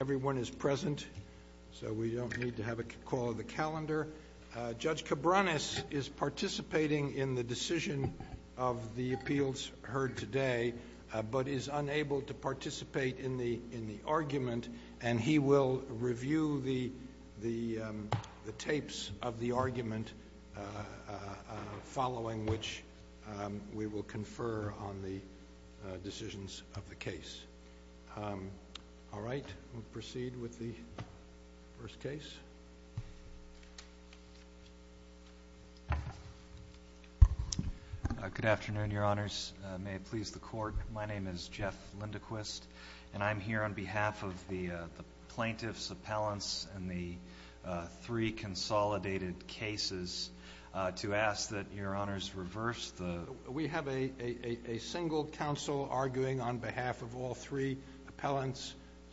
Everyone is present, so we don't need to have a call of the calendar. Judge Cabranes is participating in the decision of the appeals heard today, but is unable to participate in the argument, and he will review the tapes of the argument following which we will confer on the decisions of the case. All right, we'll proceed with the first case. Good afternoon, Your Honors. May it please the Court, my name is Jeff Lindequist, and I'm here on behalf of the plaintiff's appellants and the three consolidated cases to ask that Your Honors reverse the—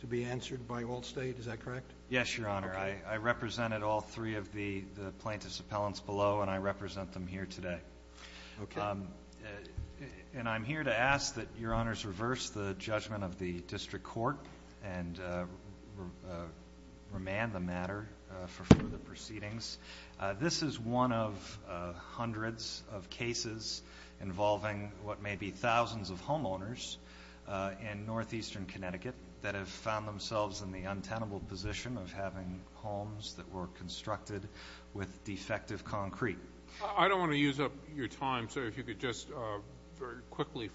to be answered by Allstate, is that correct? Yes, Your Honor. I represented all three of the plaintiff's appellants below, and I represent them here today. Okay. And I'm here to ask that Your Honors reverse the judgment of the district court and remand the matter for further proceedings. This is one of hundreds of cases involving what may be thousands of homeowners in northeastern Connecticut that have found themselves in the untenable position of having homes that were constructed with defective concrete. I don't want to use up your time, so if you could just very quickly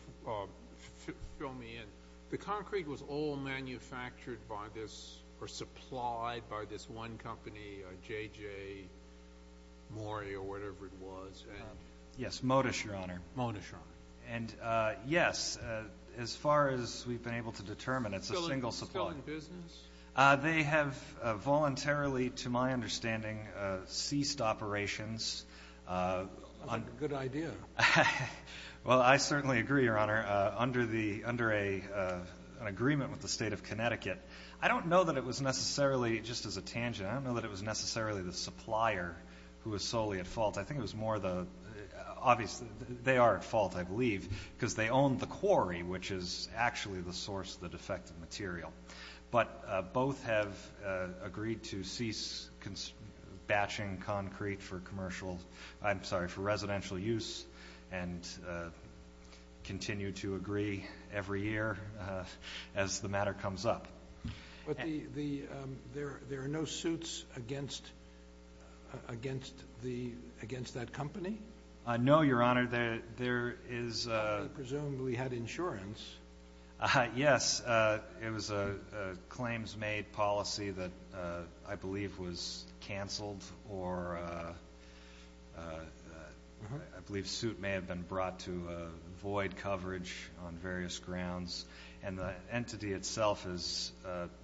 fill me in. The concrete was all manufactured by this—or supplied by this one company, JJ Mori, or whatever it was. Yes, Modish, Your Honor. Modish, Your Honor. And, yes, as far as we've been able to determine, it's a single supplier. Still in business? They have voluntarily, to my understanding, ceased operations. That's a good idea. Well, I certainly agree, Your Honor. Under an agreement with the State of Connecticut, I don't know that it was necessarily—just as a tangent, I don't know that it was necessarily the supplier who was solely at fault. I think it was more the—obviously, they are at fault, I believe, because they own the quarry, but both have agreed to cease batching concrete for residential use and continue to agree every year as the matter comes up. But there are no suits against that company? No, Your Honor. They presumably had insurance. Yes, it was a claims-made policy that I believe was canceled or I believe suit may have been brought to void coverage on various grounds. And the entity itself is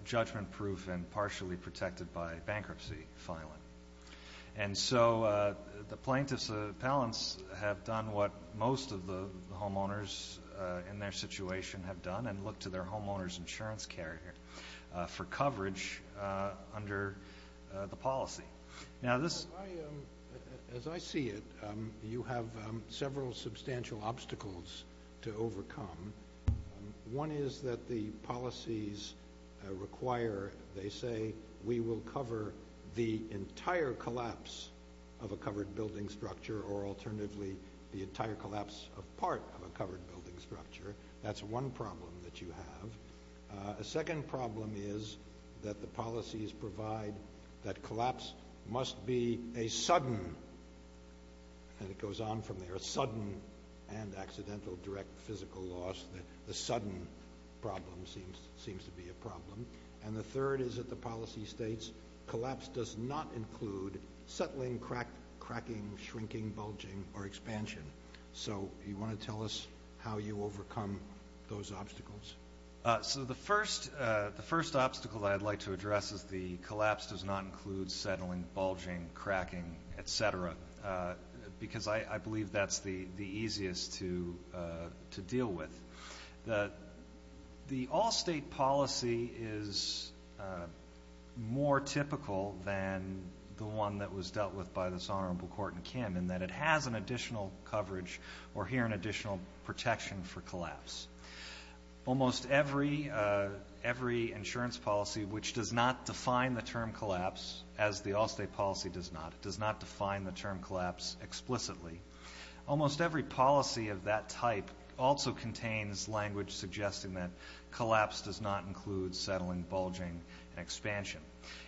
judgment-proof and partially protected by bankruptcy filing. And so the plaintiffs' appellants have done what most of the homeowners in their situation have done and looked to their homeowners' insurance carrier for coverage under the policy. Now, this— As I see it, you have several substantial obstacles to overcome. One is that the policies require, they say, we will cover the entire collapse of a covered building structure or alternatively the entire collapse of part of a covered building structure. That's one problem that you have. A second problem is that the policies provide that collapse must be a sudden— the sudden problem seems to be a problem. And the third is that the policy states collapse does not include settling, cracking, shrinking, bulging, or expansion. So you want to tell us how you overcome those obstacles? So the first obstacle that I'd like to address is the collapse does not include settling, bulging, cracking, et cetera, because I believe that's the easiest to deal with. The all-state policy is more typical than the one that was dealt with by this Honorable Kort and Kim in that it has an additional coverage or here an additional protection for collapse. Almost every insurance policy, which does not define the term collapse, as the all-state policy does not. It does not define the term collapse explicitly. Almost every policy of that type also contains language suggesting that collapse does not include settling, bulging, and expansion.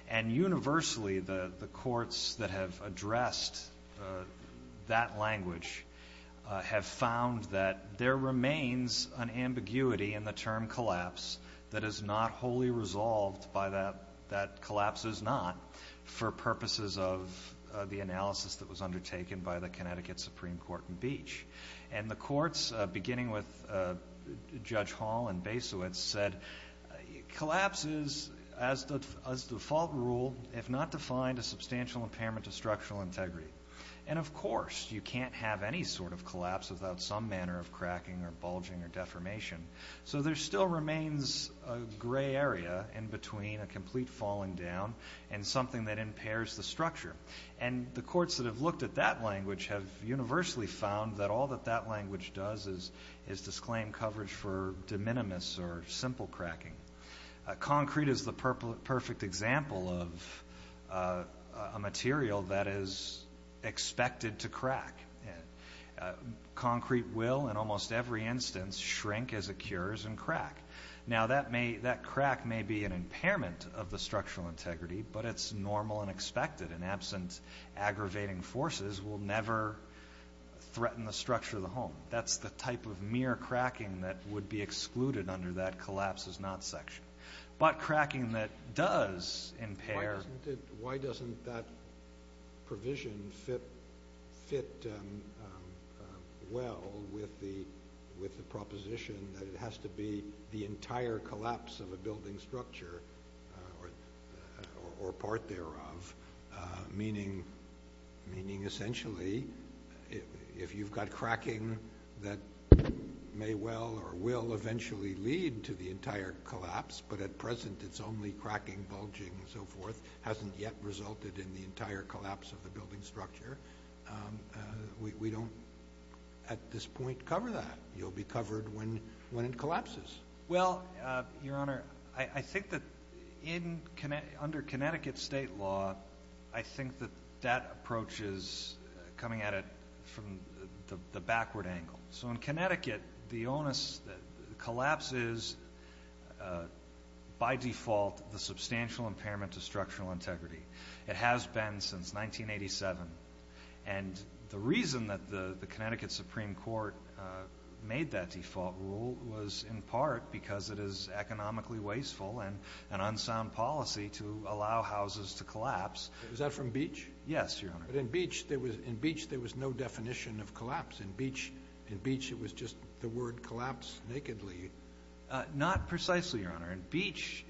And universally, the courts that have addressed that language have found that there remains an ambiguity in the term collapse that is not wholly resolved by that—that collapse is not for purposes of the analysis that was undertaken by the Connecticut Supreme Court in Beach. And the courts, beginning with Judge Hall and Basowitz, said collapse is, as default rule, if not defined, a substantial impairment to structural integrity. And, of course, you can't have any sort of collapse without some manner of cracking or bulging or deformation. So there still remains a gray area in between a complete falling down and something that impairs the structure. And the courts that have looked at that language have universally found that all that that language does is disclaim coverage for de minimis or simple cracking. Concrete is the perfect example of a material that is expected to crack. Concrete will, in almost every instance, shrink as it cures and crack. Now, that crack may be an impairment of the structural integrity, but it's normal and expected, and absent aggravating forces will never threaten the structure of the home. That's the type of mere cracking that would be excluded under that collapse is not section. But cracking that does impair... Why doesn't that provision fit well with the proposition that it has to be the entire collapse of a building structure or part thereof, meaning essentially if you've got cracking that may well or will eventually lead to the entire collapse, but at present it's only cracking, bulging, and so forth, hasn't yet resulted in the entire collapse of the building structure, we don't at this point cover that. Well, Your Honor, I think that under Connecticut state law, I think that that approach is coming at it from the backward angle. So in Connecticut, the onus, the collapse is by default the substantial impairment of structural integrity. It has been since 1987, and the reason that the Connecticut Supreme Court made that default rule was in part because it is economically wasteful and an unsound policy to allow houses to collapse. Was that from Beach? Yes, Your Honor. But in Beach, there was no definition of collapse. In Beach, it was just the word collapse nakedly. Not precisely, Your Honor. In Beach,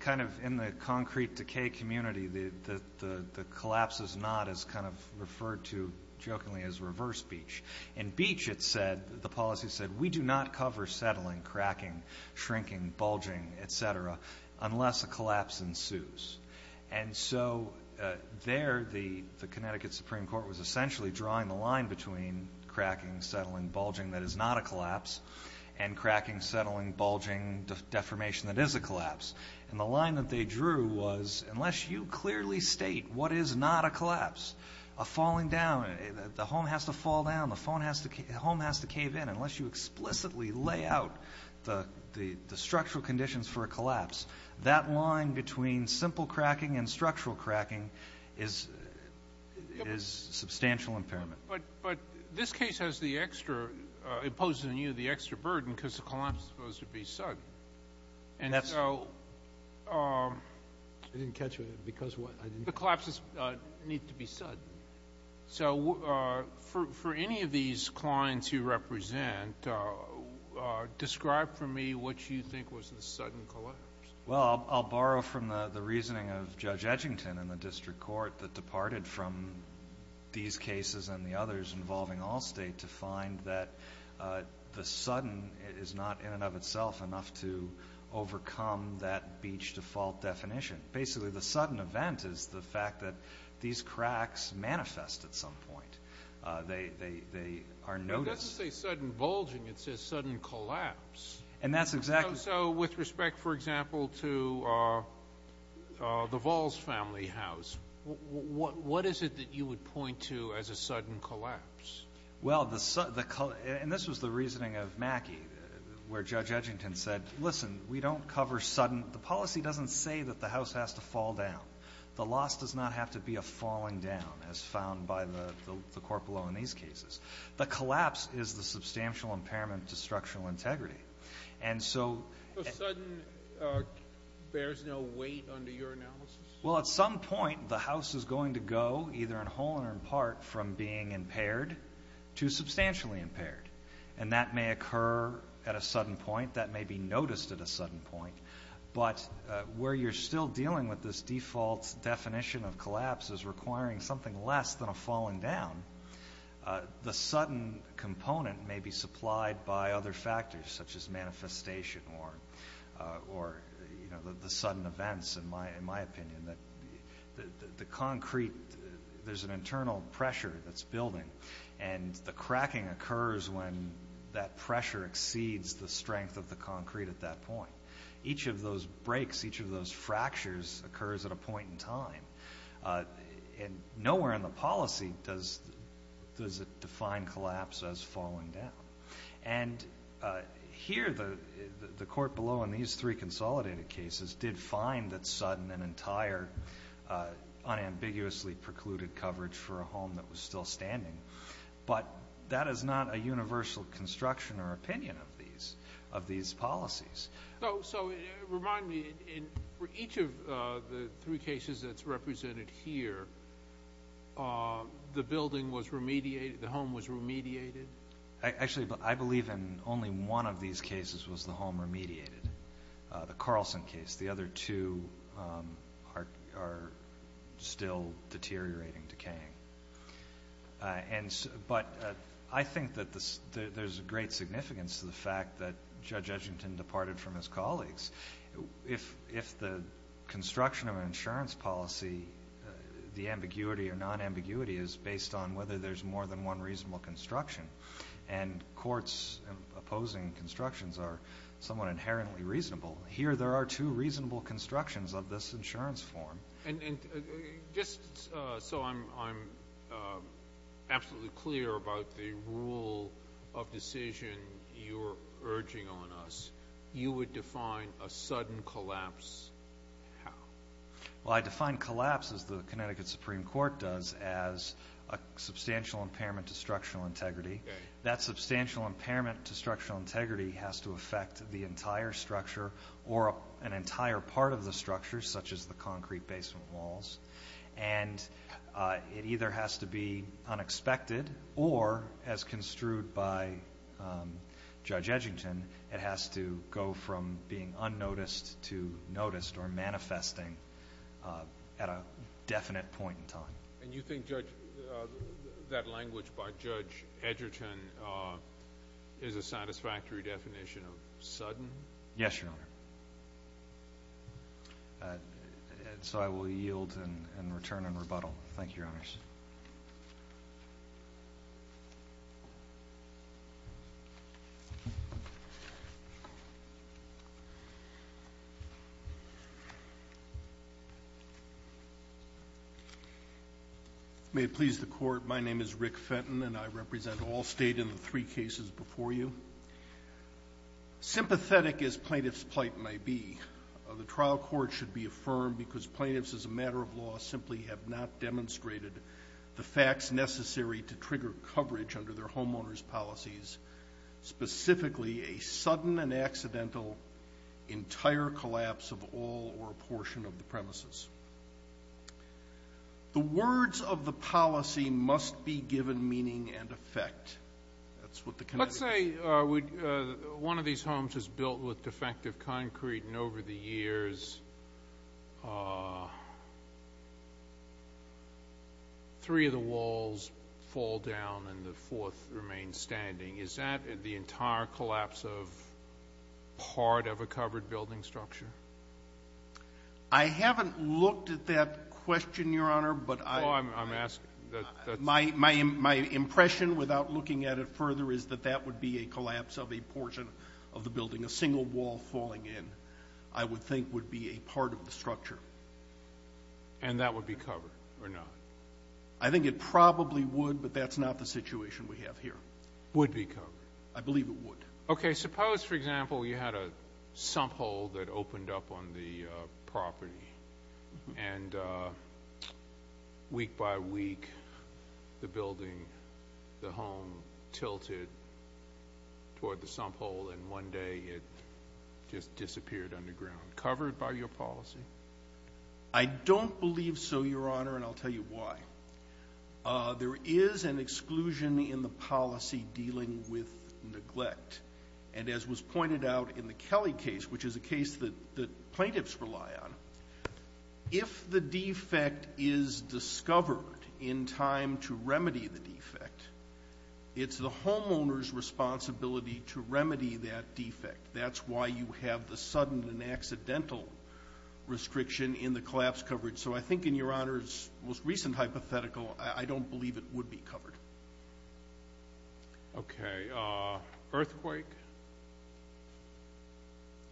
kind of in the concrete decay community, the collapse is not as kind of referred to jokingly as reverse Beach. In Beach, it said, the policy said, we do not cover settling, cracking, shrinking, bulging, et cetera, unless a collapse ensues. And so there, the Connecticut Supreme Court was essentially drawing the line between cracking, settling, bulging, that is not a collapse, and cracking, settling, bulging, deformation that is a collapse. And the line that they drew was, unless you clearly state what is not a collapse, a falling down, the home has to fall down, the home has to cave in, unless you explicitly lay out the structural conditions for a collapse, that line between simple cracking and structural cracking is substantial impairment. But this case has the extra, it poses to you the extra burden because the collapse is supposed to be sudden. And so the collapses need to be sudden. So for any of these clients you represent, describe for me what you think was the sudden collapse. Well, I'll borrow from the reasoning of Judge Edgington in the district court that departed from these cases and the others involving Allstate to find that the sudden is not in and of itself enough to overcome that Beach default definition. Basically, the sudden event is the fact that these cracks manifest at some point. They are noticed. But it doesn't say sudden bulging. It says sudden collapse. And that's exactly the case. So with respect, for example, to the Valls family house, what is it that you would point to as a sudden collapse? Well, the sudden, and this was the reasoning of Mackey, where Judge Edgington said, listen, we don't cover sudden. The policy doesn't say that the house has to fall down. The loss does not have to be a falling down as found by the court below in these cases. The collapse is the substantial impairment to structural integrity. And so the sudden bears no weight under your analysis? Well, at some point the house is going to go, either in whole or in part, from being impaired to substantially impaired. And that may occur at a sudden point. That may be noticed at a sudden point. But where you're still dealing with this default definition of collapse as requiring something less than a falling down, the sudden component may be supplied by other factors such as manifestation or the sudden events, in my opinion. The concrete, there's an internal pressure that's building. And the cracking occurs when that pressure exceeds the strength of the concrete at that point. Each of those breaks, each of those fractures occurs at a point in time. And nowhere in the policy does it define collapse as falling down. And here the court below in these three consolidated cases did find that sudden and entire unambiguously precluded coverage for a home that was still standing. But that is not a universal construction or opinion of these policies. So remind me, in each of the three cases that's represented here, the building was remediated, the home was remediated? Actually, I believe in only one of these cases was the home remediated, the Carlson case. The other two are still deteriorating, decaying. But I think that there's a great significance to the fact that Judge Edgerton departed from his colleagues. If the construction of an insurance policy, the ambiguity or non-ambiguity is based on whether there's more than one reasonable construction, and courts opposing constructions are somewhat inherently reasonable, here there are two reasonable constructions of this insurance form. And just so I'm absolutely clear about the rule of decision you're urging on us, you would define a sudden collapse how? Well, I define collapse, as the Connecticut Supreme Court does, as a substantial impairment to structural integrity. That substantial impairment to structural integrity has to affect the entire structure or an entire part of the structure, such as the concrete basement walls. And it either has to be unexpected or, as construed by Judge Edgerton, it has to go from being unnoticed to noticed or manifesting at a definite point in time. And you think that language by Judge Edgerton is a satisfactory definition of sudden? Yes, Your Honor. So I will yield and return in rebuttal. Thank you, Your Honors. May it please the Court. My name is Rick Fenton, and I represent all State in the three cases before you. Sympathetic as plaintiff's plight may be, the trial court should be affirmed because plaintiffs, as a matter of law, simply have not demonstrated the facts necessary to trigger coverage under their homeowners' policies, specifically a sudden and accidental entire collapse of all or a portion of the premises. The words of the policy must be given meaning and effect. Let's say one of these homes is built with defective concrete, and over the years three of the walls fall down and the fourth remains standing. Is that the entire collapse of part of a covered building structure? I haven't looked at that question, Your Honor. Oh, I'm asking. My impression, without looking at it further, is that that would be a collapse of a portion of the building, a single wall falling in, I would think would be a part of the structure. And that would be covered or not? I think it probably would, but that's not the situation we have here. Would be covered? I believe it would. Okay, suppose, for example, you had a sump hole that opened up on the property, and week by week the building, the home, tilted toward the sump hole, and one day it just disappeared underground. Covered by your policy? I don't believe so, Your Honor, and I'll tell you why. There is an exclusion in the policy dealing with neglect, and as was pointed out in the Kelly case, which is a case that plaintiffs rely on, if the defect is discovered in time to remedy the defect, it's the homeowner's responsibility to remedy that defect. That's why you have the sudden and accidental restriction in the collapse coverage. So I think, in Your Honor's most recent hypothetical, I don't believe it would be covered. Okay. Earthquake?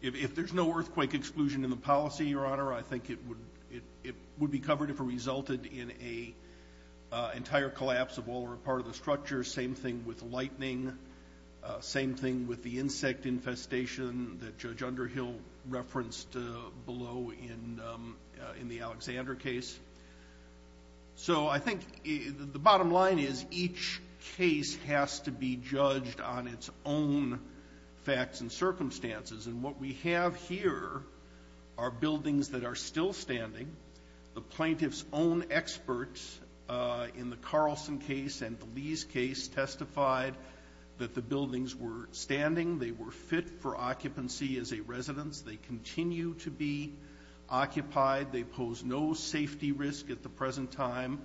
If there's no earthquake exclusion in the policy, Your Honor, I think it would be covered if it resulted in an entire collapse of all or a part of the structure. Same thing with lightning. Same thing with the insect infestation that Judge Underhill referenced below in the Alexander case. So I think the bottom line is each case has to be judged on its own facts and circumstances, and what we have here are buildings that are still standing. The plaintiff's own experts in the Carlson case and the Lee's case testified that the buildings were standing. They were fit for occupancy as a residence. They continue to be occupied. They pose no safety risk at the present time.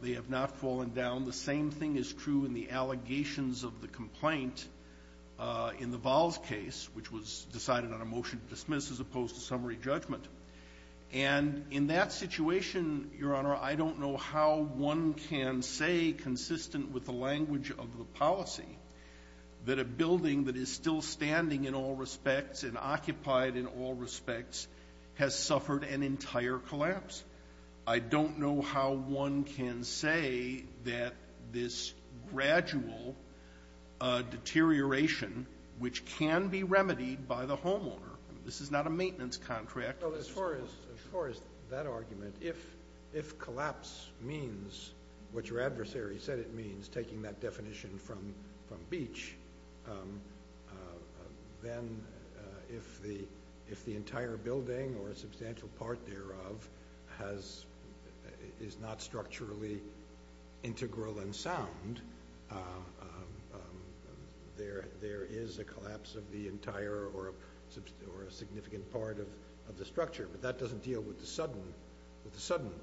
They have not fallen down. The same thing is true in the allegations of the complaint in the Valls case, which was decided on a motion to dismiss as opposed to summary judgment. And in that situation, Your Honor, I don't know how one can say, consistent with the language of the policy, that a building that is still standing in all respects and occupied in all respects has suffered an entire collapse. I don't know how one can say that this gradual deterioration, which can be remedied by the homeowner. This is not a maintenance contract. As far as that argument, if collapse means what your adversary said it means, taking that definition from Beach, then if the entire building or a substantial part thereof is not structurally integral and sound, then there is a collapse of the entire or a significant part of the structure. But that doesn't deal with the sudden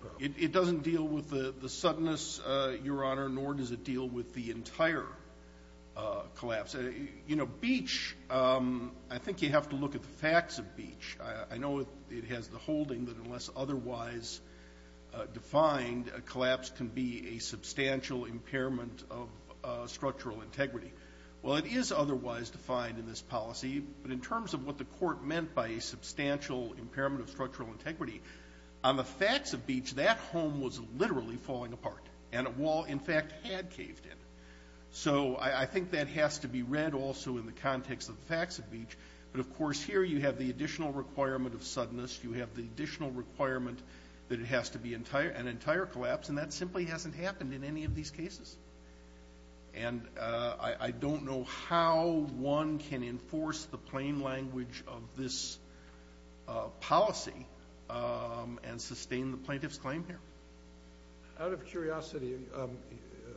problem. It doesn't deal with the suddenness, Your Honor, nor does it deal with the entire collapse. You know, Beach, I think you have to look at the facts of Beach. I know it has the holding that unless otherwise defined, a collapse can be a substantial impairment of structural integrity. Well, it is otherwise defined in this policy. But in terms of what the Court meant by a substantial impairment of structural integrity, on the facts of Beach, that home was literally falling apart. And a wall, in fact, had caved in. So I think that has to be read also in the context of the facts of Beach. But, of course, here you have the additional requirement of suddenness. You have the additional requirement that it has to be an entire collapse, and that simply hasn't happened in any of these cases. And I don't know how one can enforce the plain language of this policy and sustain the plaintiff's claim here. Out of curiosity,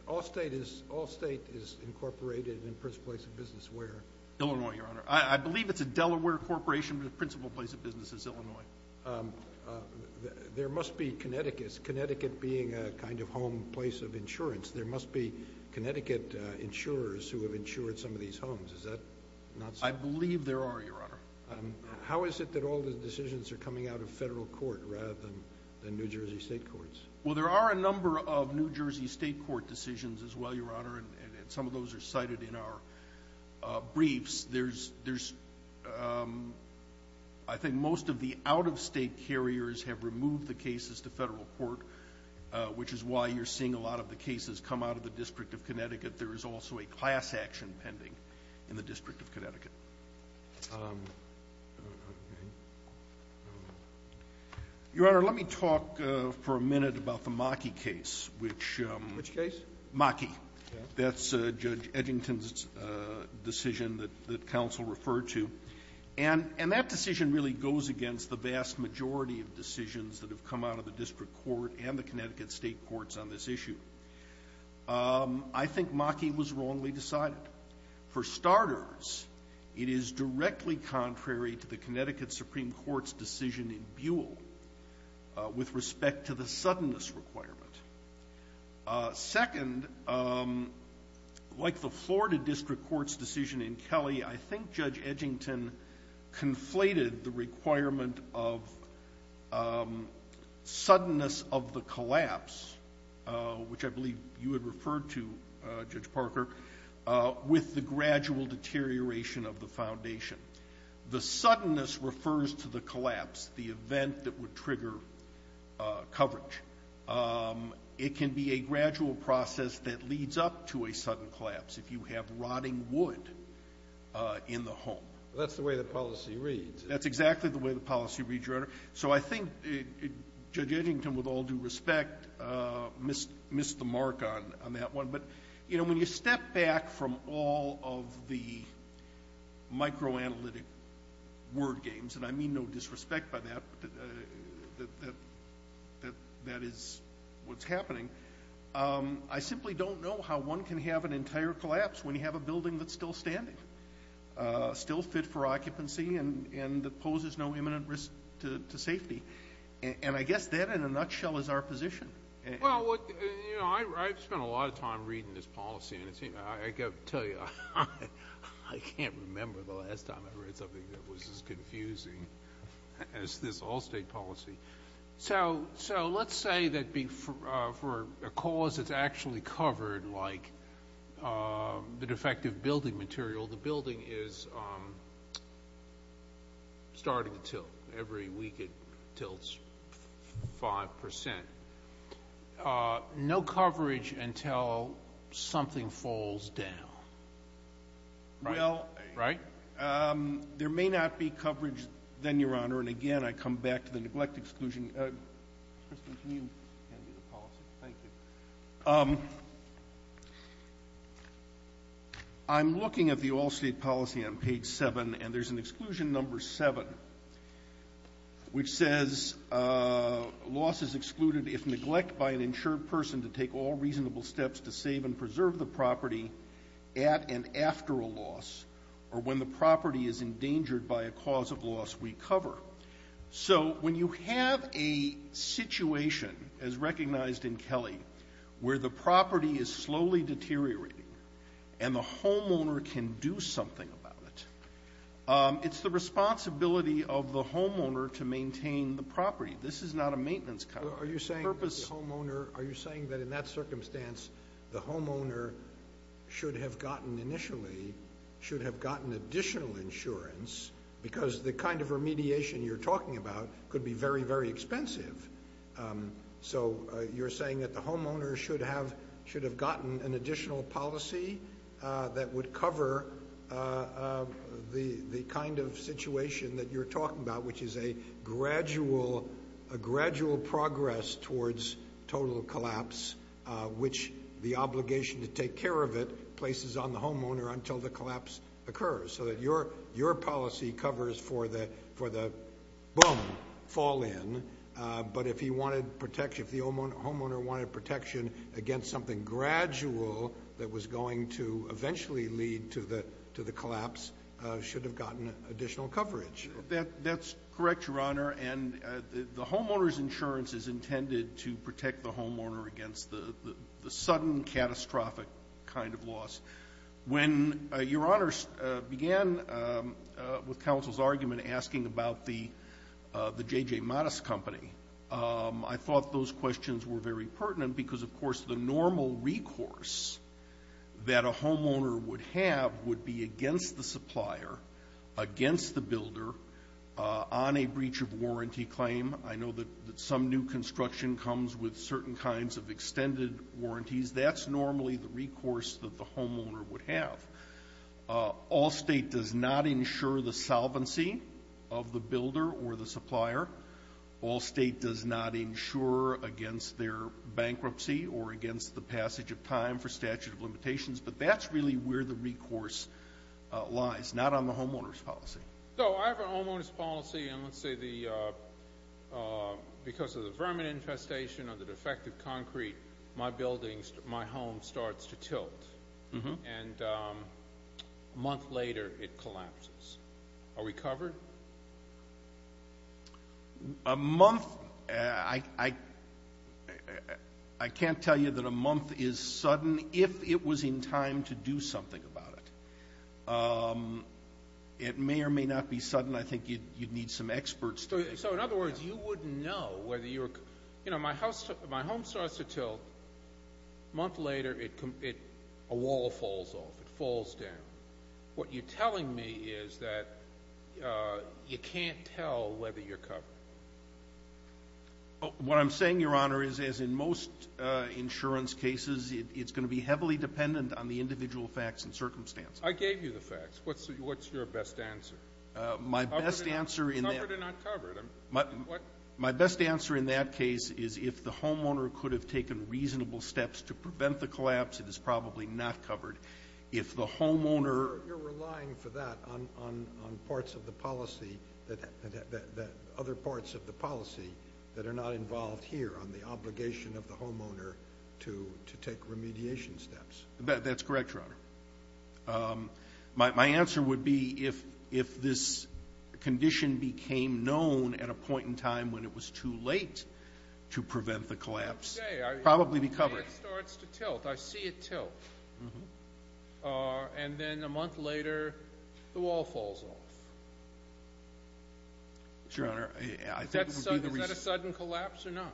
all state is incorporated in the first place in business. Where? Illinois, Your Honor. I believe it's a Delaware corporation, but the principal place of business is Illinois. There must be Connecticut. Connecticut being a kind of home place of insurance, there must be Connecticut insurers who have insured some of these homes. Is that not so? I believe there are, Your Honor. How is it that all the decisions are coming out of federal court rather than New Jersey state courts? Well, there are a number of New Jersey state court decisions as well, Your Honor, and some of those are cited in our briefs. There's – I think most of the out-of-state carriers have removed the cases to federal court, which is why you're seeing a lot of the cases come out of the District of Connecticut. There is also a class action pending in the District of Connecticut. Your Honor, let me talk for a minute about the Maki case, which – Which case? Maki. That's Judge Edgington's decision that counsel referred to. And that decision really goes against the vast majority of decisions that have come out of the district court and the Connecticut state courts on this issue. I think Maki was wrongly decided. For starters, it is directly contrary to the Connecticut Supreme Court's decision in Buell with respect to the suddenness requirement. Second, like the Florida District Court's decision in Kelly, I think Judge Edgington conflated the requirement of suddenness of the collapse, which I believe you had referred to, Judge Parker, with the gradual deterioration of the foundation. The suddenness refers to the collapse, the event that would trigger coverage. It can be a gradual process that leads up to a sudden collapse, if you have rotting wood in the home. That's the way the policy reads. That's exactly the way the policy reads, Your Honor. So I think Judge Edgington, with all due respect, missed the mark on that one. But, you know, when you step back from all of the microanalytic word games, and I mean no disrespect by that, that is what's happening, I simply don't know how one can have an entire collapse when you have a building that's still standing, still fit for occupancy and that poses no imminent risk to safety. And I guess that, in a nutshell, is our position. Well, you know, I've spent a lot of time reading this policy, and I've got to tell you I can't remember the last time I read something that was as confusing as this Allstate policy. So let's say that for a cause that's actually covered, like the defective building material, the building is starting to tilt. Every week it tilts 5%. No coverage until something falls down. Right? Well, there may not be coverage then, Your Honor. And, again, I come back to the neglect exclusion. Mr. Christensen, can you hand me the policy? Thank you. All right. I'm looking at the Allstate policy on page 7, and there's an exclusion number 7, which says loss is excluded if neglect by an insured person to take all reasonable steps to save and preserve the property at and after a loss or when the property is endangered by a cause of loss we cover. So when you have a situation, as recognized in Kelly, where the property is slowly deteriorating and the homeowner can do something about it, it's the responsibility of the homeowner to maintain the property. This is not a maintenance cover. Are you saying that the homeowner – are you saying that in that circumstance, the homeowner should have gotten initially – should have gotten additional insurance because the kind of remediation you're talking about could be very, very expensive? So you're saying that the homeowner should have gotten an additional policy that would cover the kind of situation that you're talking about, which is a gradual progress towards total collapse, which the obligation to take care of it places on the homeowner until the collapse occurs, so that your policy covers for the boom, fall in. But if he wanted protection – if the homeowner wanted protection against something gradual that was going to eventually lead to the collapse, should have gotten additional coverage. That's correct, Your Honor, and the homeowner's insurance is intended to protect the homeowner against the sudden catastrophic kind of loss. When Your Honor began with counsel's argument asking about the J.J. Mattis company, I thought those questions were very pertinent because, of course, the normal recourse that a homeowner would have would be against the supplier, against the builder, on a breach of warranty claim. I know that some new construction comes with certain kinds of extended warranties. That's normally the recourse that the homeowner would have. All state does not insure the solvency of the builder or the supplier. All state does not insure against their bankruptcy or against the passage of time for statute of limitations. But that's really where the recourse lies, not on the homeowner's policy. So I have a homeowner's policy, and let's say because of the vermin infestation or the defective concrete, my building, my home starts to tilt, and a month later it collapses. Are we covered? A month, I can't tell you that a month is sudden if it was in time to do something about it. It may or may not be sudden. I think you'd need some experts. So in other words, you wouldn't know whether you were – you know, my home starts to tilt. A month later, a wall falls off. It falls down. What you're telling me is that you can't tell whether you're covered. What I'm saying, Your Honor, is as in most insurance cases, it's going to be heavily dependent on the individual facts and circumstances. I gave you the facts. What's your best answer? Covered or not covered? My best answer in that case is if the homeowner could have taken reasonable steps to prevent the collapse, it is probably not covered. If the homeowner – You're relying for that on parts of the policy, other parts of the policy, that are not involved here on the obligation of the homeowner to take remediation steps. That's correct, Your Honor. My answer would be if this condition became known at a point in time when it was too late to prevent the collapse, it would probably be covered. It starts to tilt. I see it tilt. And then a month later, the wall falls off. Your Honor, I think it would be the reason – Is that a sudden collapse or not?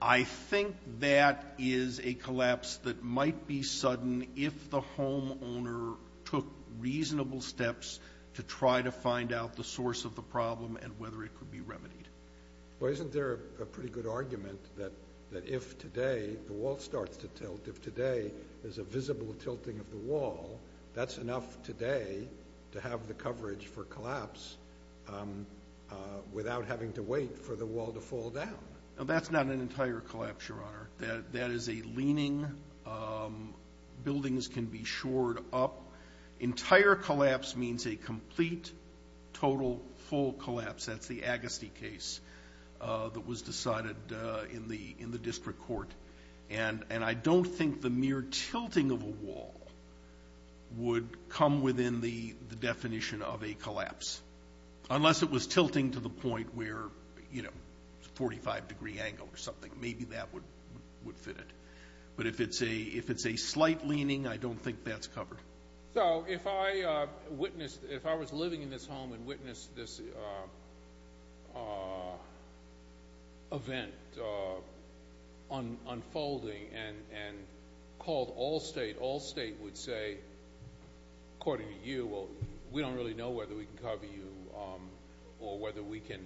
I think that is a collapse that might be sudden if the homeowner took reasonable steps to try to find out the source of the problem and whether it could be remedied. Well, isn't there a pretty good argument that if today the wall starts to tilt, if today there's a visible tilting of the wall, that's enough today to have the coverage for collapse without having to wait for the wall to fall down? That's not an entire collapse, Your Honor. That is a leaning. Buildings can be shored up. Entire collapse means a complete, total, full collapse. That's the Agassiz case that was decided in the district court. And I don't think the mere tilting of a wall would come within the definition of a collapse, unless it was tilting to the point where, you know, 45-degree angle or something. Maybe that would fit it. But if it's a slight leaning, I don't think that's covered. So if I was living in this home and witnessed this event unfolding and called Allstate, Allstate would say, according to you, well, we don't really know whether we can cover you or whether we can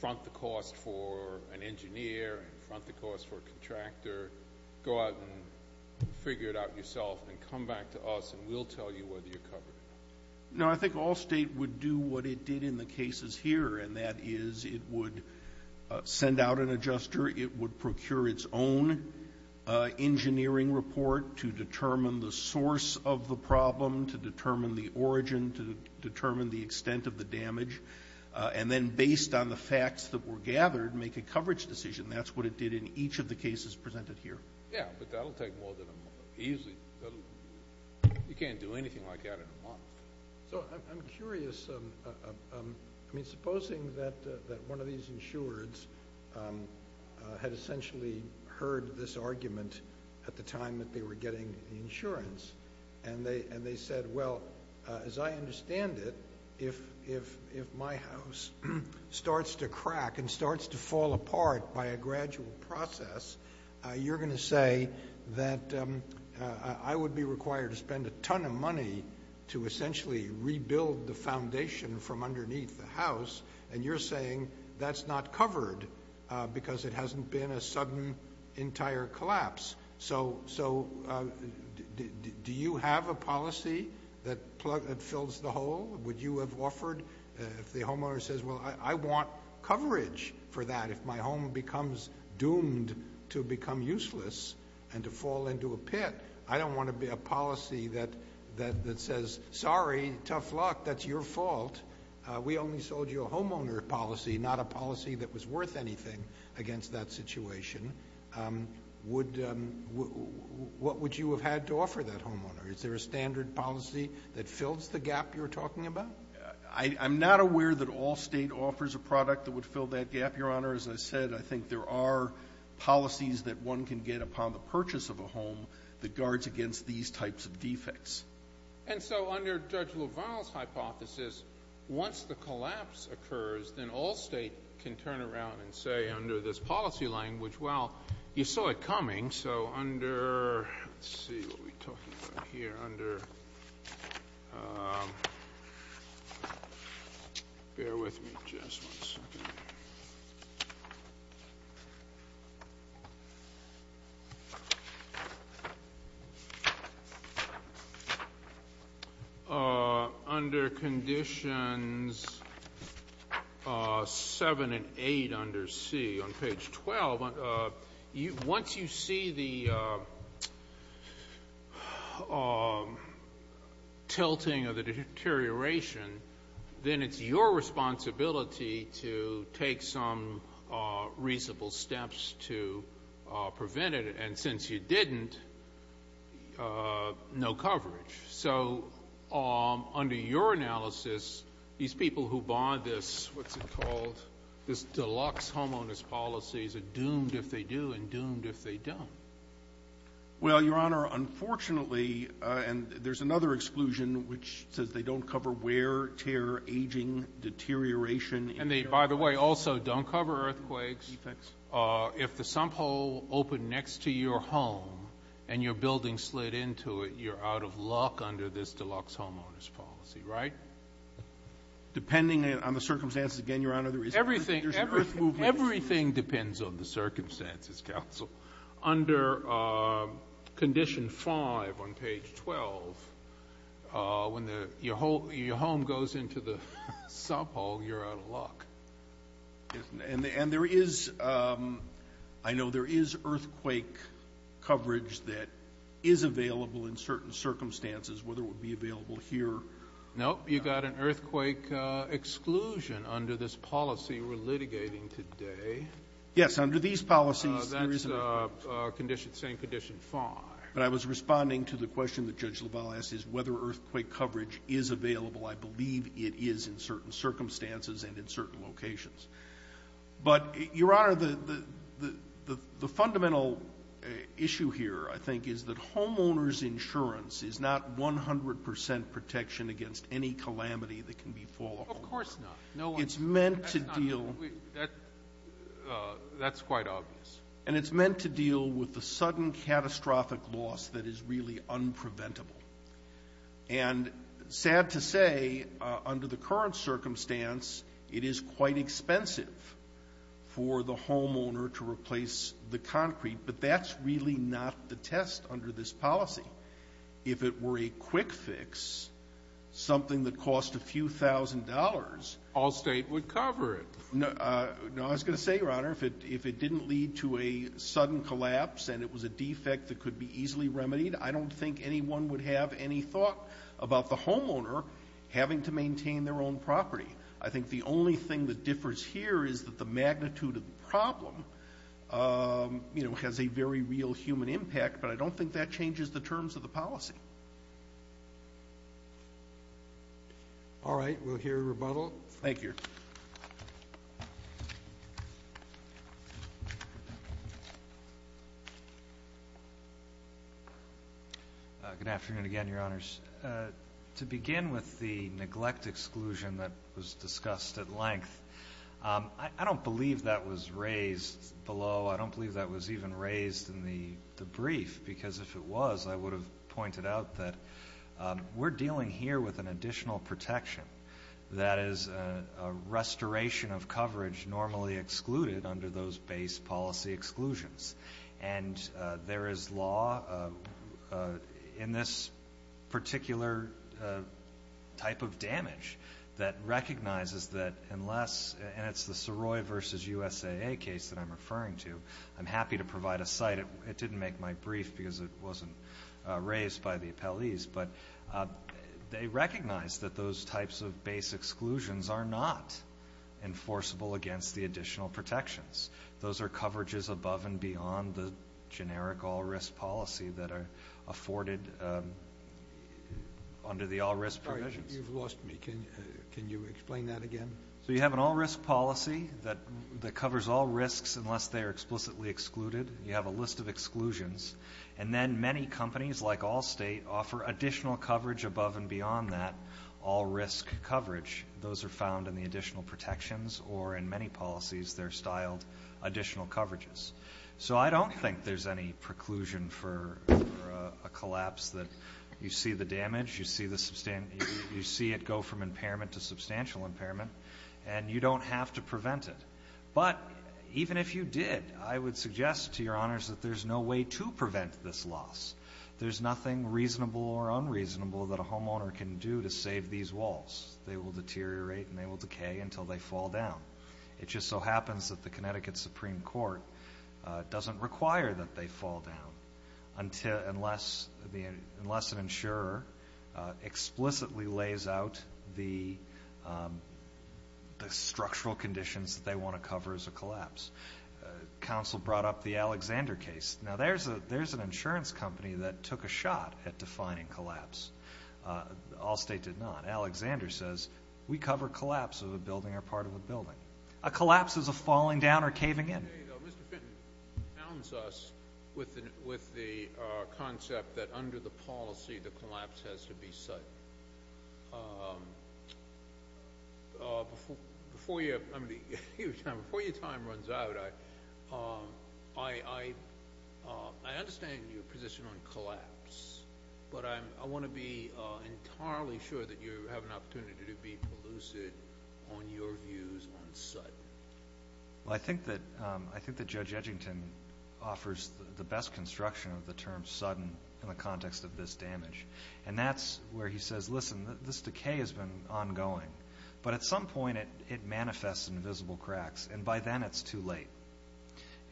front the cost for an engineer, front the cost for a contractor, go out and figure it out yourself and come back to us and we'll tell you whether you're covered. No, I think Allstate would do what it did in the cases here, and that is it would send out an adjuster, it would procure its own engineering report to determine the source of the problem, to determine the origin, to determine the extent of the damage, and then based on the facts that were gathered, make a coverage decision. That's what it did in each of the cases presented here. Yeah, but that will take more than a month. Easily, you can't do anything like that in a month. So I'm curious. I mean, supposing that one of these insureds had essentially heard this argument at the time that they were getting the insurance and they said, well, as I understand it, if my house starts to crack and starts to fall apart by a gradual process, you're going to say that I would be required to spend a ton of money to essentially rebuild the foundation from underneath the house, and you're saying that's not covered because it hasn't been a sudden entire collapse. So do you have a policy that fills the hole? Would you have offered if the homeowner says, well, I want coverage for that if my home becomes doomed to become useless and to fall into a pit? I don't want to be a policy that says, sorry, tough luck, that's your fault. We only sold you a homeowner policy, not a policy that was worth anything against that situation. What would you have had to offer that homeowner? Is there a standard policy that fills the gap you're talking about? I'm not aware that all State offers a product that would fill that gap, Your Honor. As I said, I think there are policies that one can get upon the purchase of a home that guards against these types of defects. And so under Judge LaValle's hypothesis, once the collapse occurs, then all State can turn around and say under this policy language, well, you saw it coming. So under, let's see, what are we talking about here? Bear with me just one second. Under Conditions 7 and 8 under C on page 12, once you see the tilting of the deterioration, then it's your responsibility to take some reasonable steps to prevent it. And since you didn't, no coverage. So under your analysis, these people who bought this, what's it called, this deluxe homeowner's policy are doomed if they do and doomed if they don't. Well, Your Honor, unfortunately, and there's another exclusion which says they don't cover wear, tear, aging, deterioration. And they, by the way, also don't cover earthquakes. Defects. If the sump hole opened next to your home and your building slid into it, you're out of luck under this deluxe homeowner's policy, right? Depending on the circumstances, again, Your Honor. Everything depends on the circumstances, Counsel. Under Condition 5 on page 12, when your home goes into the sump hole, you're out of luck. And there is, I know there is earthquake coverage that is available in certain circumstances, whether it would be available here. No, you've got an earthquake exclusion under this policy we're litigating today. Yes, under these policies there isn't. That's saying Condition 5. But I was responding to the question that Judge LaValle asked, is whether earthquake coverage is available. I believe it is in certain circumstances and in certain locations. But, Your Honor, the fundamental issue here, I think, is that homeowner's insurance is not 100 percent protection against any calamity that can befall a homeowner. Of course not. It's meant to deal. That's quite obvious. And it's meant to deal with the sudden catastrophic loss that is really unpreventable. And sad to say, under the current circumstance, it is quite expensive for the homeowner to replace the concrete, but that's really not the test under this policy. If it were a quick fix, something that cost a few thousand dollars. All State would cover it. No, I was going to say, Your Honor, if it didn't lead to a sudden collapse and it was a defect that could be easily remedied, I don't think anyone would have any thought about the homeowner having to maintain their own property. I think the only thing that differs here is that the magnitude of the problem, you know, has a very real human impact, but I don't think that changes the terms of the policy. All right. We'll hear a rebuttal. Thank you. Good afternoon again, Your Honors. To begin with the neglect exclusion that was discussed at length, I don't believe that was raised below. I don't believe that was even raised in the brief, because if it was, I would have pointed out that we're dealing here with an additional protection, that is a restoration of coverage normally excluded under those base policy exclusions. And there is law in this particular type of damage that recognizes that unless, and it's the Saroy versus USAA case that I'm referring to. I'm happy to provide a site. It didn't make my brief because it wasn't raised by the appellees, but they recognize that those types of base exclusions are not enforceable against the additional protections. Those are coverages above and beyond the generic all-risk policy that are afforded under the all-risk provisions. Sorry, you've lost me. Can you explain that again? So you have an all-risk policy that covers all risks unless they are explicitly excluded. You have a list of exclusions. And then many companies, like Allstate, offer additional coverage above and beyond that all-risk coverage. Those are found in the additional protections, or in many policies, they're styled additional coverages. So I don't think there's any preclusion for a collapse that you see the damage, you see it go from impairment to substantial impairment, and you don't have to prevent it. But even if you did, I would suggest to your honors that there's no way to prevent this loss. There's nothing reasonable or unreasonable that a homeowner can do to save these walls. They will deteriorate and they will decay until they fall down. It just so happens that the Connecticut Supreme Court doesn't require that they fall down unless an insurer explicitly lays out the structural conditions that they want to cover as a collapse. Counsel brought up the Alexander case. Now, there's an insurance company that took a shot at defining collapse. Allstate did not. Alexander says we cover collapse of a building or part of a building. A collapse is a falling down or caving in. Mr. Fitton bounds us with the concept that under the policy, the collapse has to be sudden. Before your time runs out, I understand your position on collapse, but I want to be entirely sure that you have an opportunity to be elusive on your views on sudden. Well, I think that Judge Edgington offers the best construction of the term sudden in the context of this damage, and that's where he says, listen, this decay has been ongoing, but at some point it manifests in visible cracks, and by then it's too late.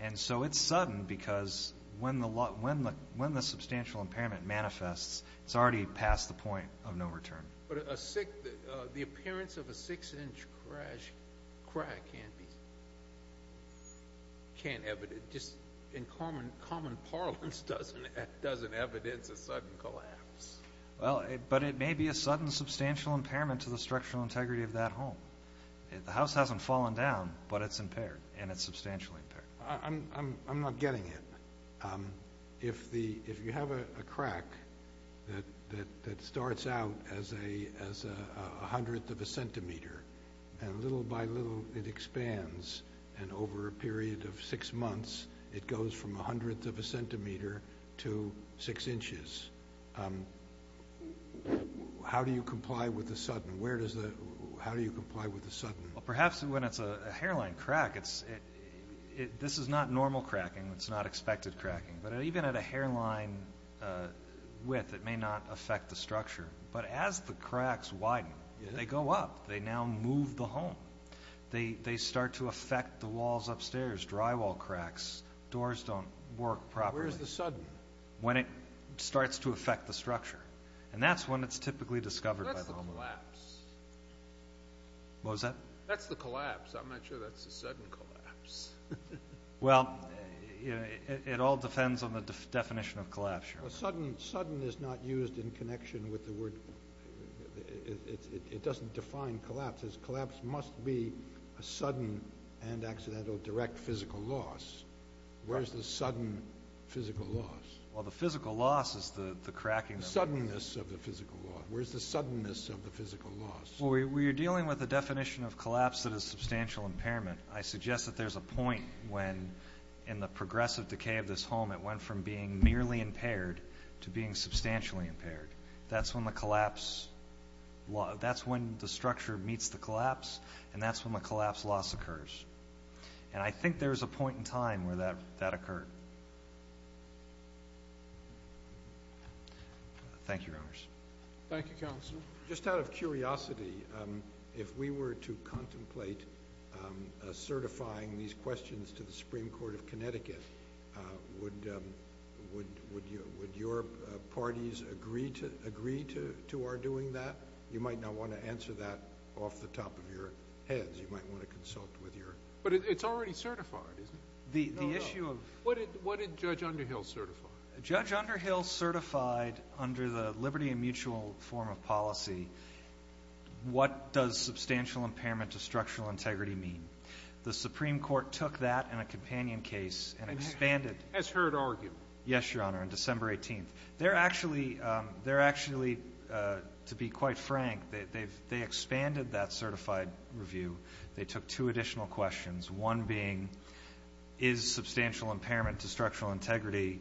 And so it's sudden because when the substantial impairment manifests, it's already past the point of no return. But the appearance of a six-inch crack can't be, just in common parlance doesn't evidence a sudden collapse. Well, but it may be a sudden substantial impairment to the structural integrity of that home. The house hasn't fallen down, but it's impaired, and it's substantially impaired. I'm not getting it. If you have a crack that starts out as a hundredth of a centimeter, and little by little it expands, and over a period of six months it goes from a hundredth of a centimeter to six inches, how do you comply with the sudden? How do you comply with the sudden? Well, perhaps when it's a hairline crack, this is not normal cracking, it's not expected cracking, but even at a hairline width it may not affect the structure. But as the cracks widen, they go up, they now move the home. They start to affect the walls upstairs, drywall cracks, doors don't work properly. Where's the sudden? When it starts to affect the structure, and that's when it's typically discovered by the homeowner. What's the collapse? What was that? That's the collapse. I'm not sure that's the sudden collapse. Well, it all depends on the definition of collapse. Sudden is not used in connection with the word. It doesn't define collapse. Collapse must be a sudden and accidental direct physical loss. Where's the sudden physical loss? Well, the physical loss is the cracking. The suddenness of the physical loss. Where's the suddenness of the physical loss? Well, we are dealing with a definition of collapse that is substantial impairment. I suggest that there's a point when, in the progressive decay of this home, it went from being merely impaired to being substantially impaired. That's when the structure meets the collapse, and that's when the collapse loss occurs. And I think there's a point in time where that occurred. Thank you, Your Honors. Thank you, Counselor. Just out of curiosity, if we were to contemplate certifying these questions to the Supreme Court of Connecticut, would your parties agree to our doing that? You might not want to answer that off the top of your heads. You might want to consult with your. But it's already certified, isn't it? The issue of. What did Judge Underhill certify? Judge Underhill certified, under the liberty and mutual form of policy, what does substantial impairment to structural integrity mean. The Supreme Court took that in a companion case and expanded. And has heard argument. Yes, Your Honor, on December 18th. They're actually, to be quite frank, they expanded that certified review. They took two additional questions, one being is substantial impairment to structural integrity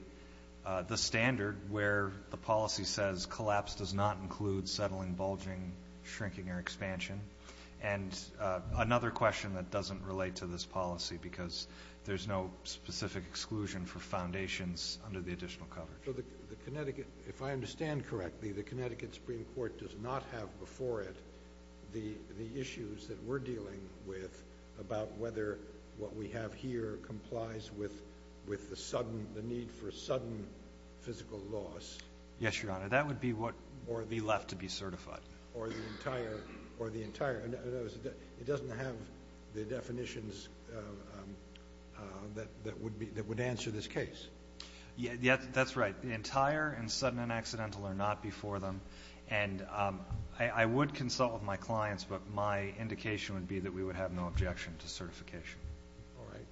the standard where the policy says collapse does not include settling, bulging, shrinking, or expansion? And another question that doesn't relate to this policy, because there's no specific exclusion for foundations under the additional coverage. If I understand correctly, the Connecticut Supreme Court does not have before it the issues that we're dealing with about whether what we have here complies with the sudden, the need for sudden physical loss. Yes, Your Honor. That would be what would be left to be certified. Or the entire, it doesn't have the definitions that would answer this case. That's right. The entire and sudden and accidental are not before them. And I would consult with my clients, but my indication would be that we would have no objection to certification. All right.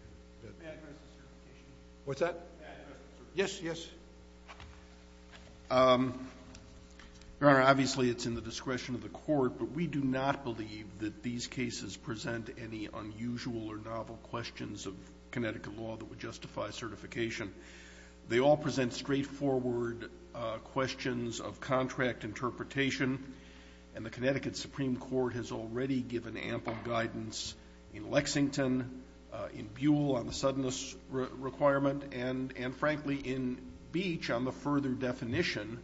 May I address the certification? What's that? May I address the certification? Yes, yes. Your Honor, obviously, it's in the discretion of the Court, but we do not believe that these cases present any unusual or novel questions of Connecticut law that would justify certification. They all present straightforward questions of contract interpretation, and the Connecticut Supreme Court has already given ample guidance in Lexington, in Buell on the suddenness requirement, and, frankly, in Beach on the further definition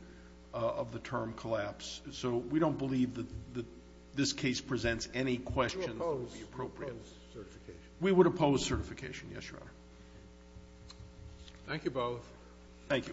of the term collapse. So we don't believe that this case presents any questions that would be appropriate. Would you oppose certification? We would oppose certification, yes, Your Honor. Thank you both. Thank you.